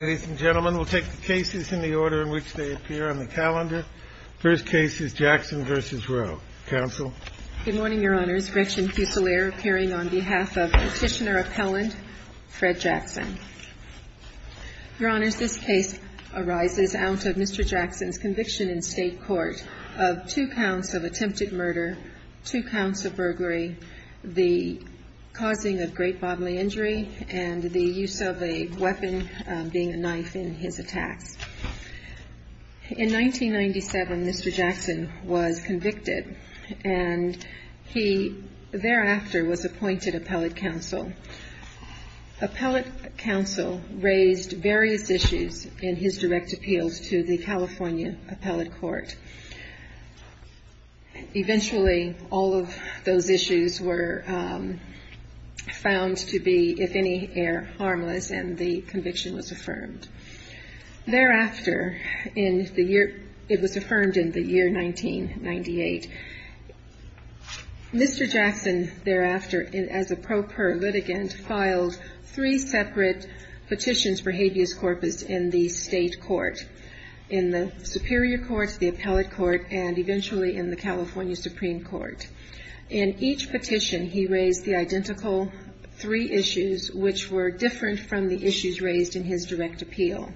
Ladies and gentlemen, we'll take the cases in the order in which they appear on the calendar. First case is Jackson v. Roe. Counsel? Good morning, Your Honors. Gretchen Fusilier appearing on behalf of Petitioner Appellant Fred Jackson. Your Honors, this case arises out of Mr. Jackson's conviction in State Court of two counts of attempted murder, two counts of burglary, the causing of great bodily injury, and the use of a weapon, being a knife, in his attacks. In 1997, Mr. Jackson was convicted and he thereafter was appointed Appellate Counsel. Appellate Counsel raised various issues in his direct appeals to the California Appellate Court. Eventually, all of those issues were found to be, if any, harmless and the conviction was affirmed. Thereafter, it was affirmed in the year 1998, Mr. Jackson thereafter, as a pro per litigant, filed three separate petitions for habeas corpus in the State Court. In the Superior Court, the Appellate Court, and eventually in the California Supreme Court. In each petition, he raised the identical three issues, which were different from the issues raised in his direct appeal.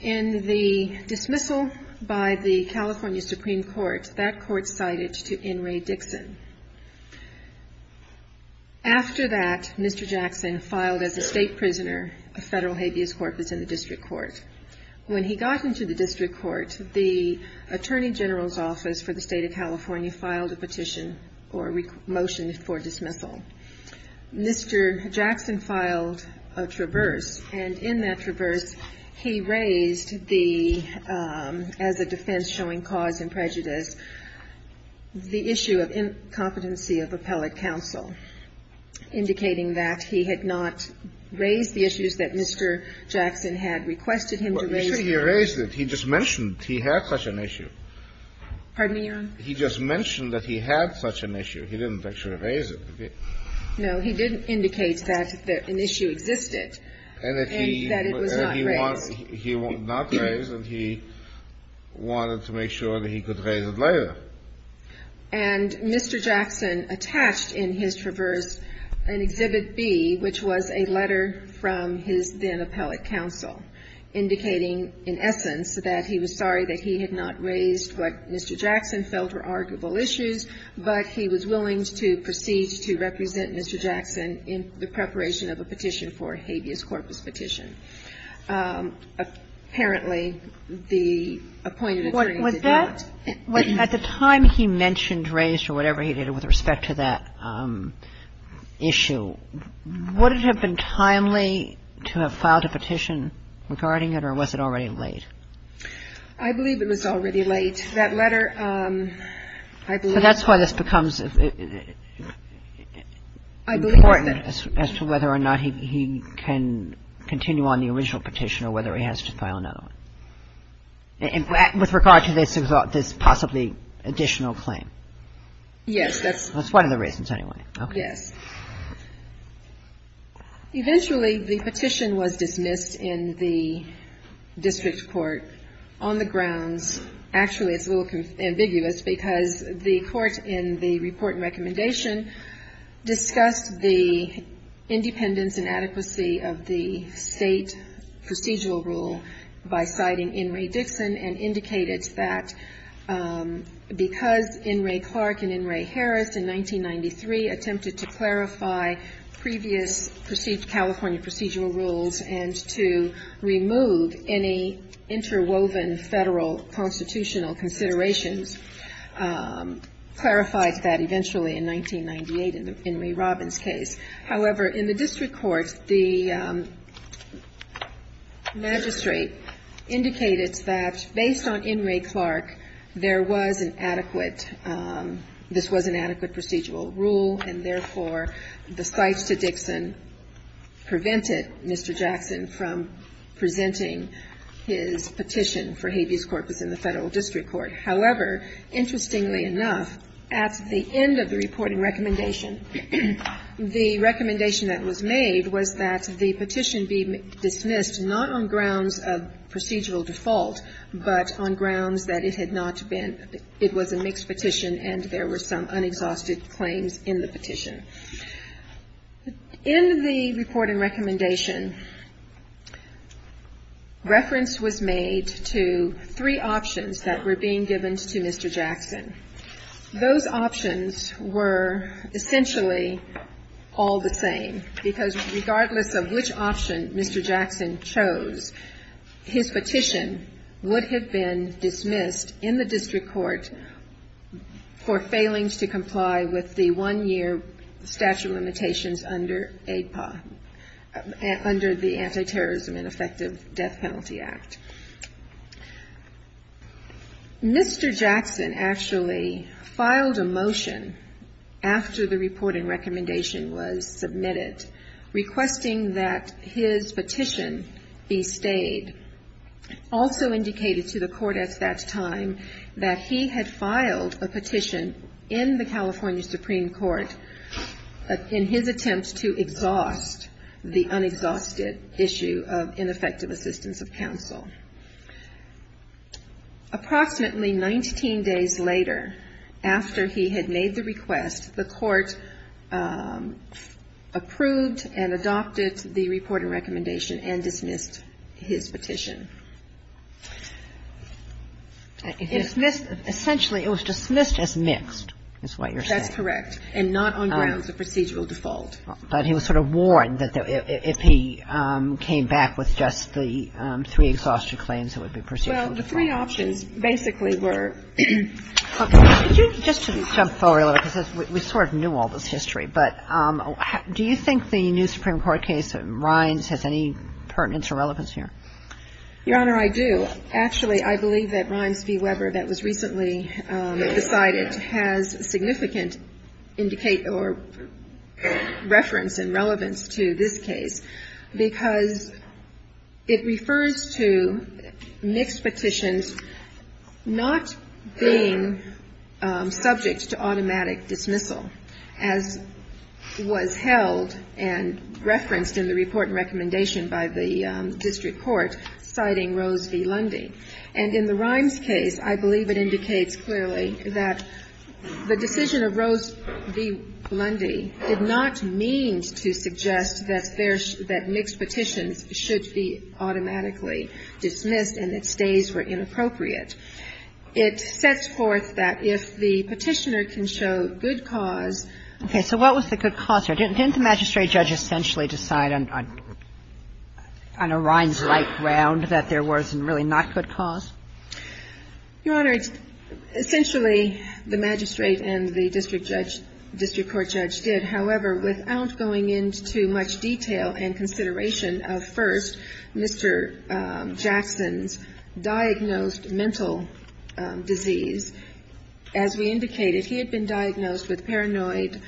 In the dismissal by the California Supreme Court, that court cited to N. Ray Dixon. After that, Mr. Jackson filed as a state prisoner a federal habeas corpus in the District Court. When he got into the District Court, the Attorney General's Office for the State of California filed a petition or motion for dismissal. Mr. Jackson filed a traverse, and in that traverse, he raised the, as a defense showing cause and prejudice, the issue of incompetency of appellate counsel, indicating that he had not raised the issues that Mr. Jackson had requested him to raise. Kennedy, he raised it. He just mentioned he had such an issue. Pardon me, Your Honor? He just mentioned that he had such an issue. He didn't actually raise it. No, he didn't indicate that an issue existed and that it was not raised. He wanted to make sure that he could raise it later. And Mr. Jackson attached in his traverse an Exhibit B, which was a letter from his then-appellate counsel, indicating in essence that he was sorry that he had not raised what Mr. Jackson felt were arguable issues, but he was willing to proceed to represent Mr. Jackson in the preparation of a petition for a habeas corpus petition. Apparently, the appointed attorney did not. Was that at the time he mentioned raised or whatever he did with respect to that issue, would it have been timely to have filed a petition regarding it, or was it already late? I believe it was already late. That letter, I believe. So that's why this becomes important as to whether or not he can continue on the original petition or whether he has to file another one, with regard to this possibly additional claim. Yes. That's one of the reasons, anyway. Yes. Eventually, the petition was dismissed in the district court on the grounds, actually it's a little ambiguous, because the court in the report and recommendation discussed the independence and adequacy of the state procedural rule by citing In re Dixon and indicated that because In re Clark and In re Harris in 1993 attempted to clarify the state procedural rule, the state procedural rule was not in effect. So the court decided to clarify previous California procedural rules and to remove any interwoven Federal constitutional considerations, clarified that eventually in 1998 in the In re Robbins case. However, in the district court, the magistrate indicated that based on In re Clark, there was an adequate, this was an adequate procedural rule, and therefore, the cites to Dixon prevented Mr. Jackson from presenting his petition for habeas corpus in the Federal district court. However, interestingly enough, at the end of the reporting recommendation, the recommendation that was made was that the petition be dismissed not on grounds of procedural default, but on grounds that it had not been, it was a mixed petition and there were some unexhausted claims in the petition. In the reporting recommendation, reference was made to three options that were being given to Mr. Jackson. Those options were essentially all the same, because regardless of which option Mr. Jackson chose, his petition would have been dismissed in the district court for failings to comply with the one-year statute of limitations under APA, under the Anti-Terrorism and Effective Death Penalty Act. Mr. Jackson actually filed a motion after the reporting recommendation was submitted, requesting that his petition be stayed. Also indicated to the court at that time that he had filed a petition in the California Supreme Court in his attempt to exhaust the issue of ineffective assistance of counsel. Approximately 19 days later, after he had made the request, the court approved and adopted the reporting recommendation and dismissed his petition. It was dismissed as mixed, is what you're saying. That's correct, and not on grounds of procedural default. But he was sort of warned that if he came back with just the three exhaustive claims, it would be procedural default. Well, the three options basically were. Just to jump forward a little bit, because we sort of knew all this history, but do you think the new Supreme Court case, Rimes, has any pertinence or relevance here? Your Honor, I do. Actually, I believe that Rimes v. Weber that was recently decided has significant indicate or reference and relevance to this case, because it refers to mixed petitions not being subject to automatic dismissal, as was held and referenced in the report and And in the Rimes case, I believe it indicates clearly that the decision of Rose v. Blundy did not mean to suggest that there's that mixed petitions should be automatically dismissed and that stays were inappropriate. It sets forth that if the Petitioner can show good cause. Okay. So what was the good cause here? Didn't the magistrate judge essentially decide on a Rimes-like ground that there wasn't really not good cause? Your Honor, it's essentially the magistrate and the district judge, district court judge did. However, without going into much detail and consideration of, first, Mr. Jackson's diagnosed mental disease, as we indicated, he had been diagnosed with paranoid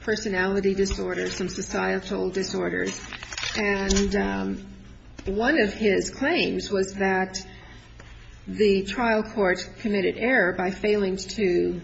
personality disorders, some societal disorders. And one of his claims was that the trial court committed error by failing to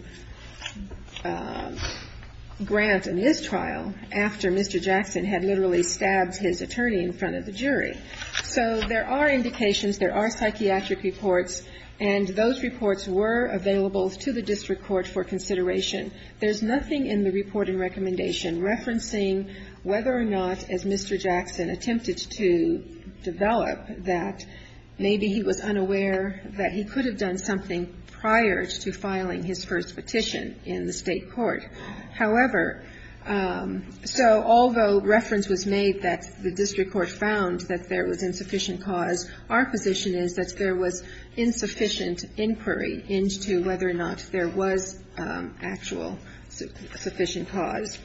grant in his trial after Mr. Jackson had literally stabbed his attorney in front of the jury. So there are indications, there are psychiatric reports, and those reports were available to the district court for consideration. There's nothing in the report and recommendation referencing whether or not, as Mr. Jackson attempted to develop, that maybe he was unaware that he could have done something prior to filing his first petition in the state court. However, so although reference was made that the district court found that there was insufficient cause, our position is that there was insufficient inquiry into whether or not there was actual sufficient cause.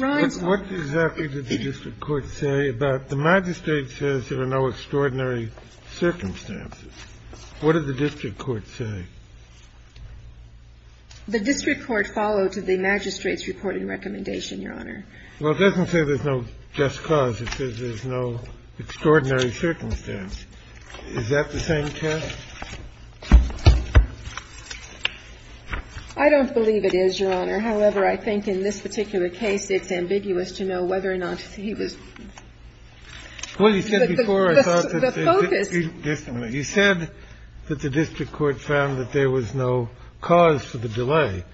Rimes- What exactly did the district court say about the magistrate says there are no extraordinary circumstances? What did the district court say? The district court followed the magistrate's report and recommendation, Your Honor. Well, it doesn't say there's no just cause. It says there's no extraordinary circumstance. Is that the same test? I don't believe it is, Your Honor. However, I think in this particular case, it's ambiguous to know whether or not he was- Well, you said before- The focus- You said that the district court found that there was no cause for the delay.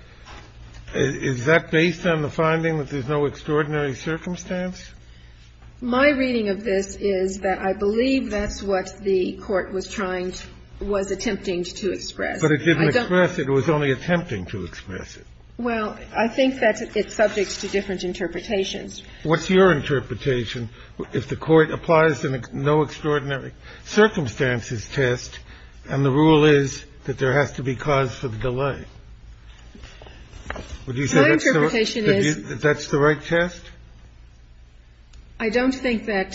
Is that based on the finding that there's no extraordinary circumstance? My reading of this is that I believe that's what the court was trying, was attempting to express. I don't- But it didn't express it. It was only attempting to express it. Well, I think that it's subject to different interpretations. What's your interpretation if the court applies the no extraordinary circumstances test and the rule is that there has to be cause for the delay? My interpretation is- Would you say that's the right test? I don't think that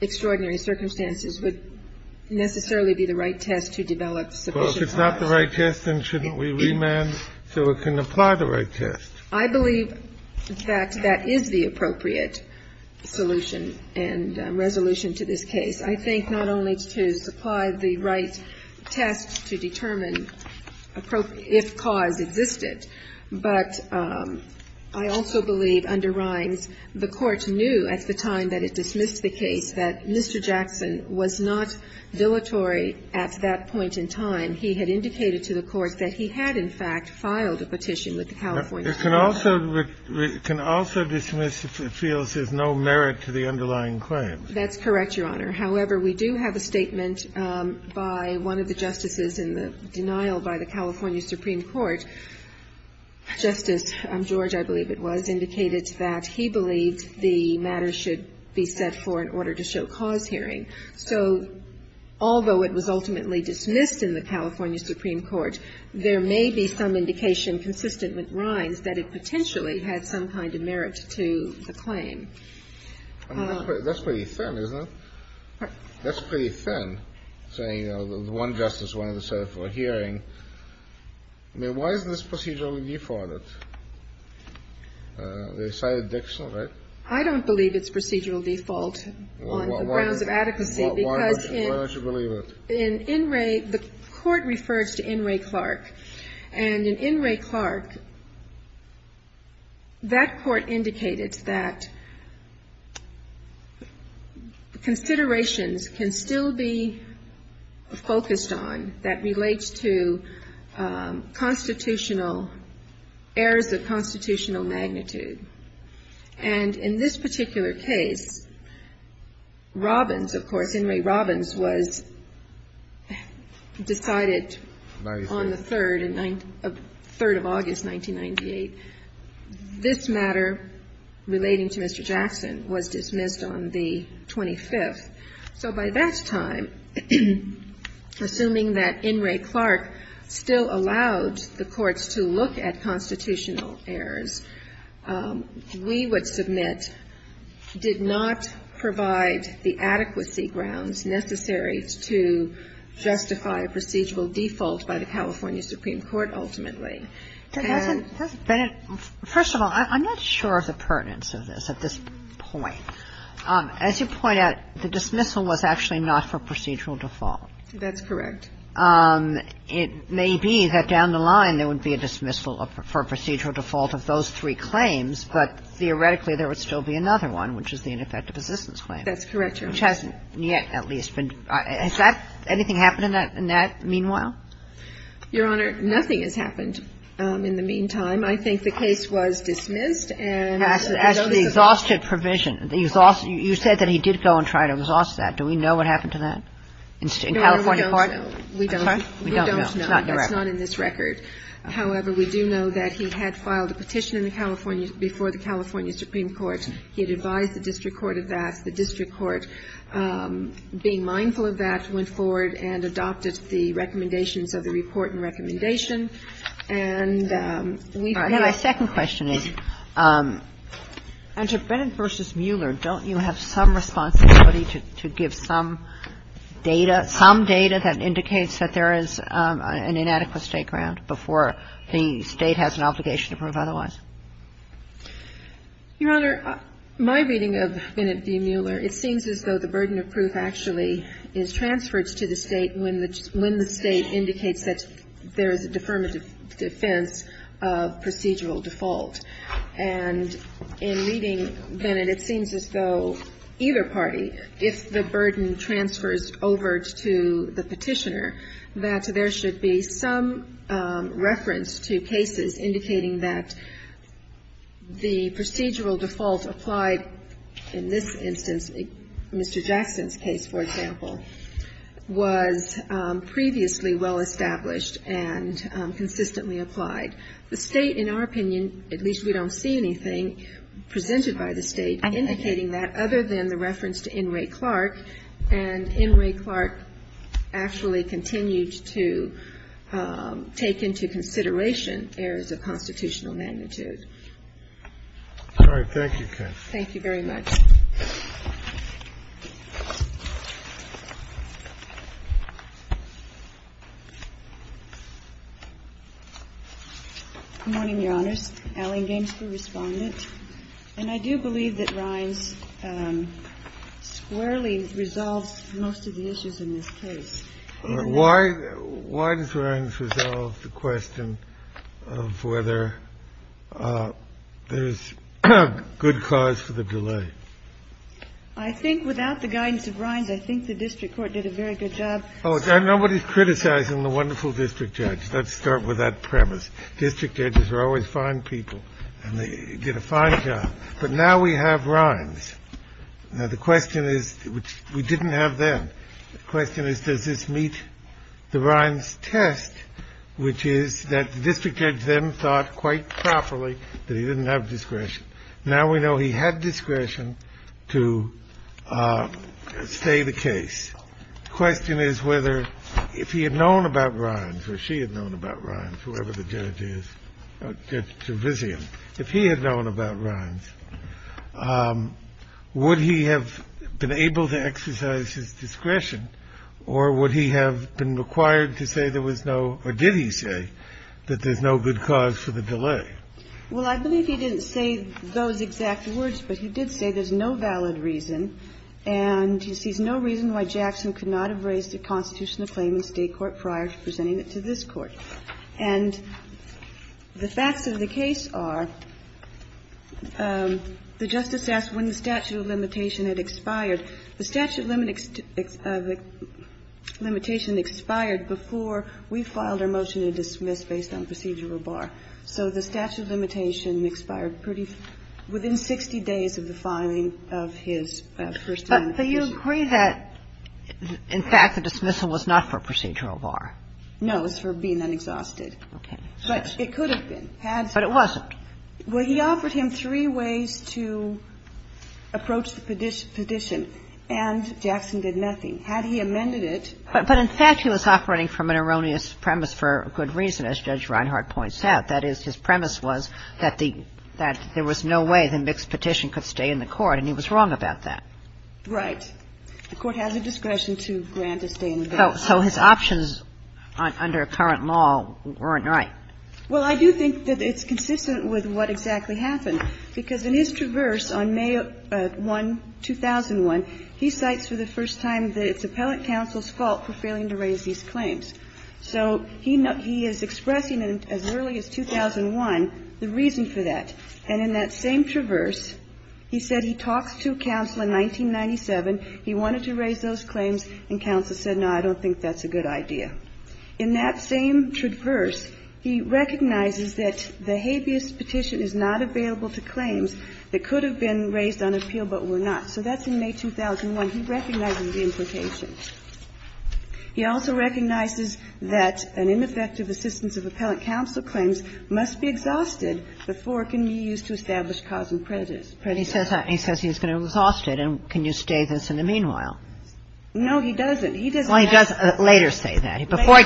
extraordinary circumstances would necessarily be the right test to develop sufficient cause. Well, if it's not the right test, then shouldn't we remand so it can apply the right test? I believe that that is the appropriate solution and resolution to this case. I think not only to supply the right test to determine if cause existed, but I also believe under Rimes the court knew at the time that it dismissed the case that Mr. Jackson was not dilatory at that point in time. He had indicated to the court that he had, in fact, filed a petition with the California Supreme Court. It can also dismiss if it feels there's no merit to the underlying claim. That's correct, Your Honor. However, we do have a statement by one of the justices in the denial by the California Supreme Court. Justice George, I believe it was, indicated that he believed the matter should be set for an order to show cause hearing. So although it was ultimately dismissed in the California Supreme Court, there may be some indication consistent with Rimes that it potentially had some kind of merit to the claim. That's pretty thin, isn't it? That's pretty thin, saying, you know, the one justice wanted to set it for a hearing. I mean, why is this procedurally defaulted? They cited Dixon, right? I don't believe it's procedural default on the grounds of adequacy because in In Ray the court refers to In Ray Clark. And in In Ray Clark, that court indicated that considerations can still be focused on that relates to constitutional, errors of constitutional magnitude. And in this particular case, Robbins, of course, In Ray Robbins, was decided on the 3rd of August, 1998. This matter relating to Mr. Jackson was dismissed on the 25th. So by that time, assuming that In Ray Clark still allowed the courts to look at constitutional errors, we would submit, did not provide the adequacy grounds necessary to justify a procedural default by the California Supreme Court ultimately. And that's a — Kagan. First of all, I'm not sure of the pertinence of this at this point. As you point out, the dismissal was actually not for procedural default. That's correct. It may be that down the line there would be a dismissal for procedural default of those three claims, but theoretically there would still be another one, which is the ineffective assistance claim. That's correct, Your Honor. of those three claims, but theoretically there would still be another one, which hasn't yet, at least. Has that — anything happened in that meanwhile? Your Honor, nothing has happened in the meantime. I think the case was dismissed and the notice of the — As the exhausted provision. You said that he did go and try to exhaust that. Do we know what happened to that in California court? No, we don't. We don't know. We don't know. It's not in the record. It's not in this record. However, we do know that he had filed a petition in the California — before the California Supreme Court. He had advised the district court of that. The district court, being mindful of that, went forward and adopted the recommendations of the report and recommendation. And we've — My second question is, under Bennett v. Mueller, don't you have some responsibility to give some data, some data that indicates that there is an inadequate state ground before the State has an obligation to prove otherwise? Your Honor, my reading of Bennett v. Mueller, it seems as though the burden of proof actually is transferred to the State when the State indicates that there is a deferment of defense of procedural default. And in reading Bennett, it seems as though either party, if the burden transfers over to the petitioner, that there should be some reference to cases indicating that the procedural default applied in this instance, Mr. Jackson's case, for example, was previously well established and consistently applied. The State, in our opinion, at least we don't see anything presented by the State indicating that other than the reference to Inouye Clark, and Inouye Clark actually continued to take into consideration errors of constitutional magnitude. All right. Thank you, Kaye. Thank you very much. Good morning, Your Honors. Allie Gainsborough, Respondent. And I do believe that Rhines squarely resolves most of the issues in this case. Why does Rhines resolve the question of whether there is good cause for the delay? I think without the guidance of Rhines, I think the district court did a very good job. Nobody is criticizing the wonderful district judge. Let's start with that premise. District judges are always fine people, and they get a fine job. But now we have Rhines. Now, the question is we didn't have them. The question is does this meet the Rhines test, which is that the district judge then thought quite properly that he didn't have discretion. Now we know he had discretion to stay the case. The question is whether if he had known about Rhines or she had known about Rhines, whoever the judge is, Judge Trevisan, if he had known about Rhines, would he have been able to exercise his discretion, or would he have been required to say there was no, or did he say, that there's no good cause for the delay? Well, I believe he didn't say those exact words, but he did say there's no valid reason, and he sees no reason why Jackson could not have raised a constitutional claim in State court prior to presenting it to this Court. And the facts of the case are, the Justice asked when the statute of limitation had expired, the statute of limitation expired before we filed our motion to dismiss based on procedural bar. So the statute of limitation expired pretty soon, within 60 days of the filing of his first amendment. But you agree that, in fact, the dismissal was not for procedural bar? No, it was for being unexhausted. Okay. But it could have been. But it wasn't. Well, he offered him three ways to approach the petition, and Jackson did nothing. Had he amended it. But, in fact, he was operating from an erroneous premise for good reason, as Judge Reinhart points out. That is, his premise was that the – that there was no way the mixed petition could stay in the Court, and he was wrong about that. Right. The Court has a discretion to grant a stay in the court. So his options under current law weren't right. Well, I do think that it's consistent with what exactly happened. Because in his traverse on May 1, 2001, he cites for the first time that it's appellate counsel's fault for failing to raise these claims. So he is expressing, as early as 2001, the reason for that. And in that same traverse, he said he talks to counsel in 1997, he wanted to raise those claims, and counsel said, no, I don't think that's a good idea. In that same traverse, he recognizes that the habeas petition is not available to claims that could have been raised on appeal but were not. So that's in May 2001. He recognizes the implications. He also recognizes that an ineffective assistance of appellate counsel claims must be exhausted before it can be used to establish cause and prejudice. But he says that, and he says he's going to exhaust it. And can you stay this in the meanwhile? No, he doesn't. He doesn't have to. Well, he does later say that. Before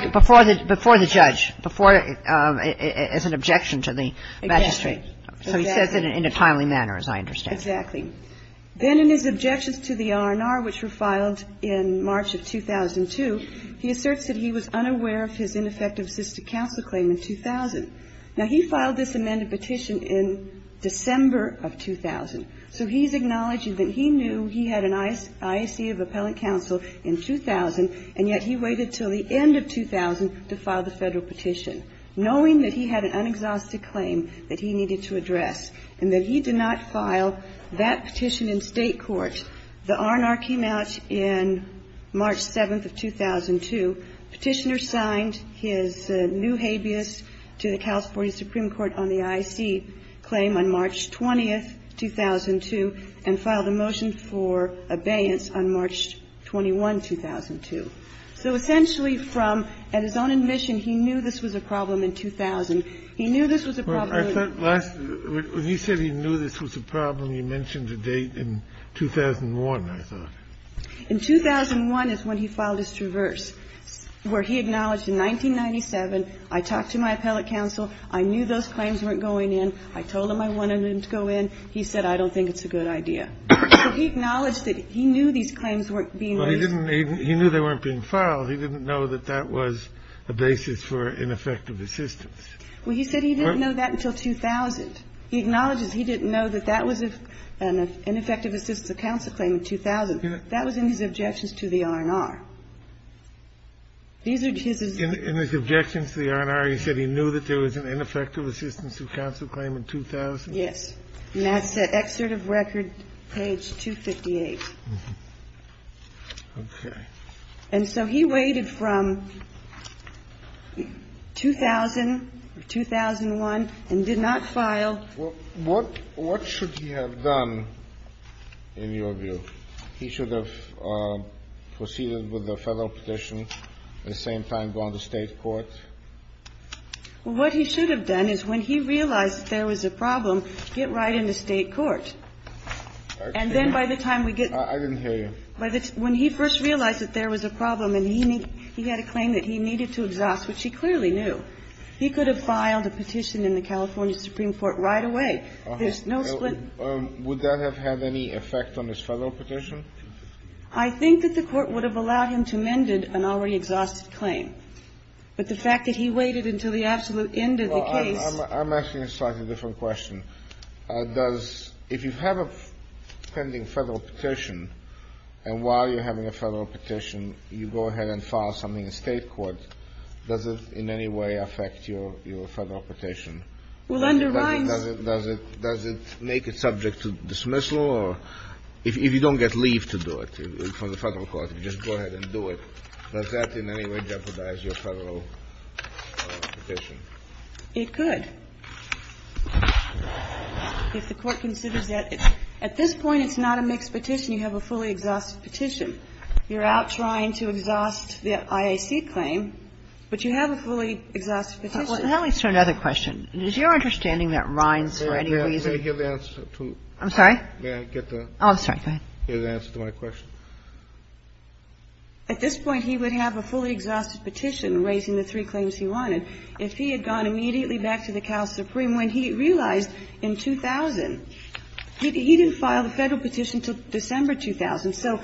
the judge. Before, as an objection to the magistrate. Exactly. So he says it in a timely manner, as I understand. Exactly. Then in his objections to the R&R, which were filed in March of 2002, he asserts that he was unaware of his ineffective assistance of counsel claim in 2000. Now, he filed this amended petition in December of 2000. So he's acknowledging that he knew he had an IAC of appellate counsel in 2000, and yet he waited until the end of 2000 to file the Federal petition, knowing that he had an unexhausted claim that he needed to address and that he did not file that petition in State court. The R&R came out in March 7th of 2002. Petitioner signed his new habeas to the California Supreme Court on the IAC claim on March 20th, 2002, and filed a motion for abeyance on March 21, 2002. So essentially from, at his own admission, he knew this was a problem in 2000. He knew this was a problem. I thought last, when he said he knew this was a problem, he mentioned a date in 2001, I thought. In 2001 is when he filed his traverse, where he acknowledged in 1997, I talked to my appellate counsel. I knew those claims weren't going in. I told him I wanted them to go in. He said, I don't think it's a good idea. So he acknowledged that he knew these claims weren't being raised. He knew they weren't being filed. He didn't know that that was a basis for ineffective assistance. Well, he said he didn't know that until 2000. He acknowledges he didn't know that that was an ineffective assistance of counsel claim in 2000. That was in his objections to the R&R. These are his objections. In his objections to the R&R, he said he knew that there was an ineffective assistance of counsel claim in 2000. Yes. And that's at Excerpt of Record, page 258. Okay. And so he waited from 2000 or 2001 and did not file. What should he have done, in your view? He should have proceeded with a federal petition at the same time gone to State court? Well, what he should have done is when he realized there was a problem, get right into State court. And then by the time we get to that. I didn't hear you. When he first realized that there was a problem and he had a claim that he needed to exhaust, which he clearly knew. He could have filed a petition in the California Supreme Court right away. There's no split. Would that have had any effect on his federal petition? I think that the Court would have allowed him to amend an already exhausted claim. But the fact that he waited until the absolute end of the case. Well, I'm asking a slightly different question. Does, if you have a pending federal petition, and while you're having a federal petition, you go ahead and file something in State court, does it in any way affect your federal petition? Well, underlines. Does it make it subject to dismissal? Or if you don't get leave to do it for the federal court, you just go ahead and do it. Does that in any way jeopardize your federal petition? It could. If the Court considers that. At this point, it's not a mixed petition. You have a fully exhausted petition. You're out trying to exhaust the IAC claim, but you have a fully exhausted petition. Let me ask you another question. Is your understanding that Rines for any reason. May I hear the answer to. I'm sorry? May I get the. Oh, I'm sorry. Go ahead. Hear the answer to my question. At this point, he would have a fully exhausted petition raising the three claims he wanted if he had gone immediately back to the Cal Supreme when he realized in 2000. He didn't file the federal petition until December 2000. So.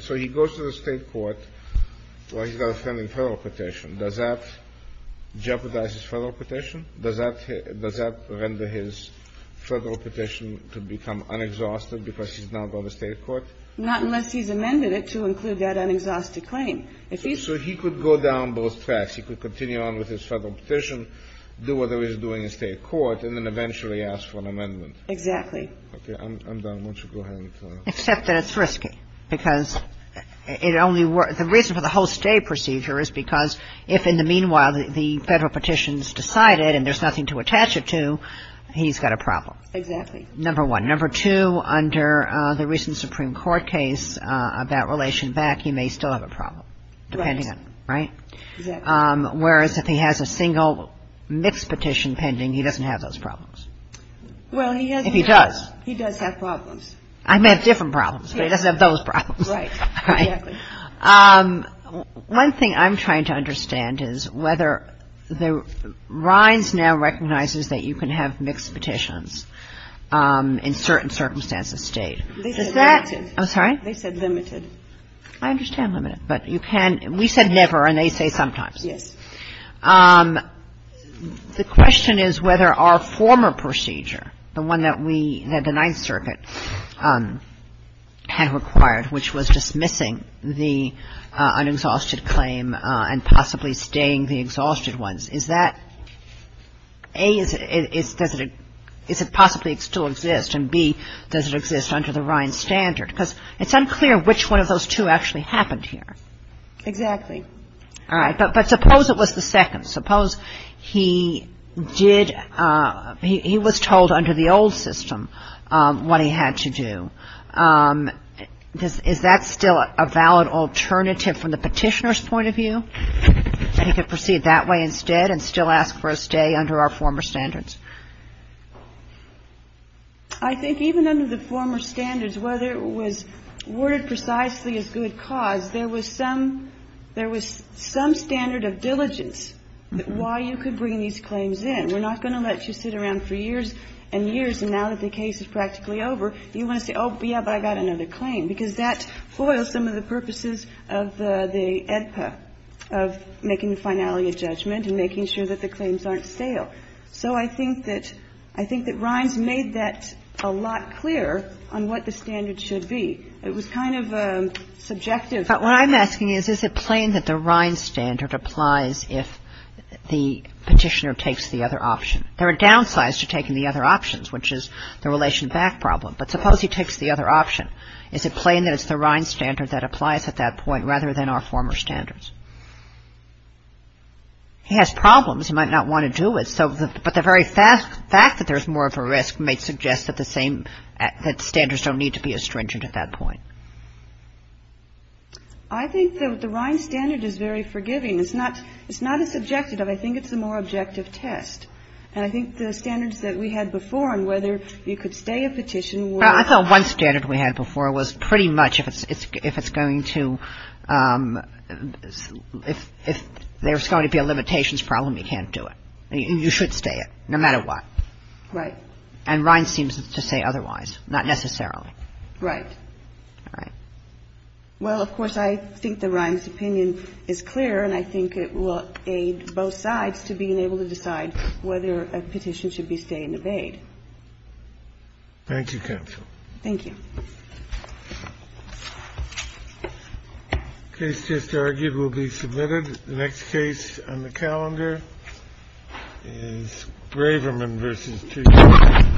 So he goes to the State court while he's got a pending federal petition. Does that jeopardize his federal petition? Does that render his federal petition to become unexhausted because he's now going to State court? Not unless he's amended it to include that unexhausted claim. So he could go down both tracks. He could continue on with his federal petition, do what he was doing in State court, and then eventually ask for an amendment. Exactly. Okay. I'm done. Why don't you go ahead and. Except that it's risky because it only. The reason for the whole stay procedure is because if in the meanwhile the federal petition is decided and there's nothing to attach it to, he's got a problem. Exactly. Number one. Number two, under the recent Supreme Court case about relation back, he may still have a problem. Right. Depending on. Right? Exactly. Whereas if he has a single mixed petition pending, he doesn't have those problems. Well, he has. If he does. He does have problems. I meant different problems, but he doesn't have those problems. Right. Exactly. One thing I'm trying to understand is whether the Rhines now recognizes that you can have mixed petitions in certain circumstances State. They said limited. I'm sorry? They said limited. I understand limited. But you can. We said never, and they say sometimes. Yes. The question is whether our former procedure, the one that we, that the Ninth Circuit had required, which was dismissing the unexhausted claim and possibly staying the exhausted ones. Is that, A, does it possibly still exist, and B, does it exist under the Rhines standard? Because it's unclear which one of those two actually happened here. Exactly. All right. But suppose it was the second. Suppose he did, he was told under the old system what he had to do. Is that still a valid alternative from the petitioner's point of view, that he could proceed that way instead and still ask for a stay under our former standards? I think even under the former standards, whether it was worded precisely as good cause, there was some standard of diligence why you could bring these claims in. We're not going to let you sit around for years and years, and now that the case is practically over, you want to say, oh, yeah, but I got another claim, because that foils some of the purposes of the AEDPA, of making the finality a judgment and making sure that the claims aren't stale. So I think that Rhines made that a lot clearer on what the standard should be. It was kind of subjective. But what I'm asking is, is it plain that the Rhines standard applies if the petitioner takes the other option? There are downsides to taking the other options, which is the relation back problem. But suppose he takes the other option. Is it plain that it's the Rhines standard that applies at that point rather than our former standards? He has problems. He might not want to do it. But the very fact that there's more of a risk may suggest that the standards don't need to be as stringent at that point. I think that the Rhines standard is very forgiving. It's not as subjective. I think it's a more objective test. And I think the standards that we had before on whether you could stay a petition were — Well, I thought one standard we had before was pretty much if it's going to — if there's going to be a limitations problem, you can't do it. You should stay it, no matter what. Right. And Rhines seems to say otherwise, not necessarily. Right. Right. Well, of course, I think the Rhines opinion is clear, and I think it will aid both sides to being able to decide whether a petition should be stay and abate. Thank you, counsel. Thank you. The case just argued will be submitted. The next case on the calendar is Graverman v. Teague.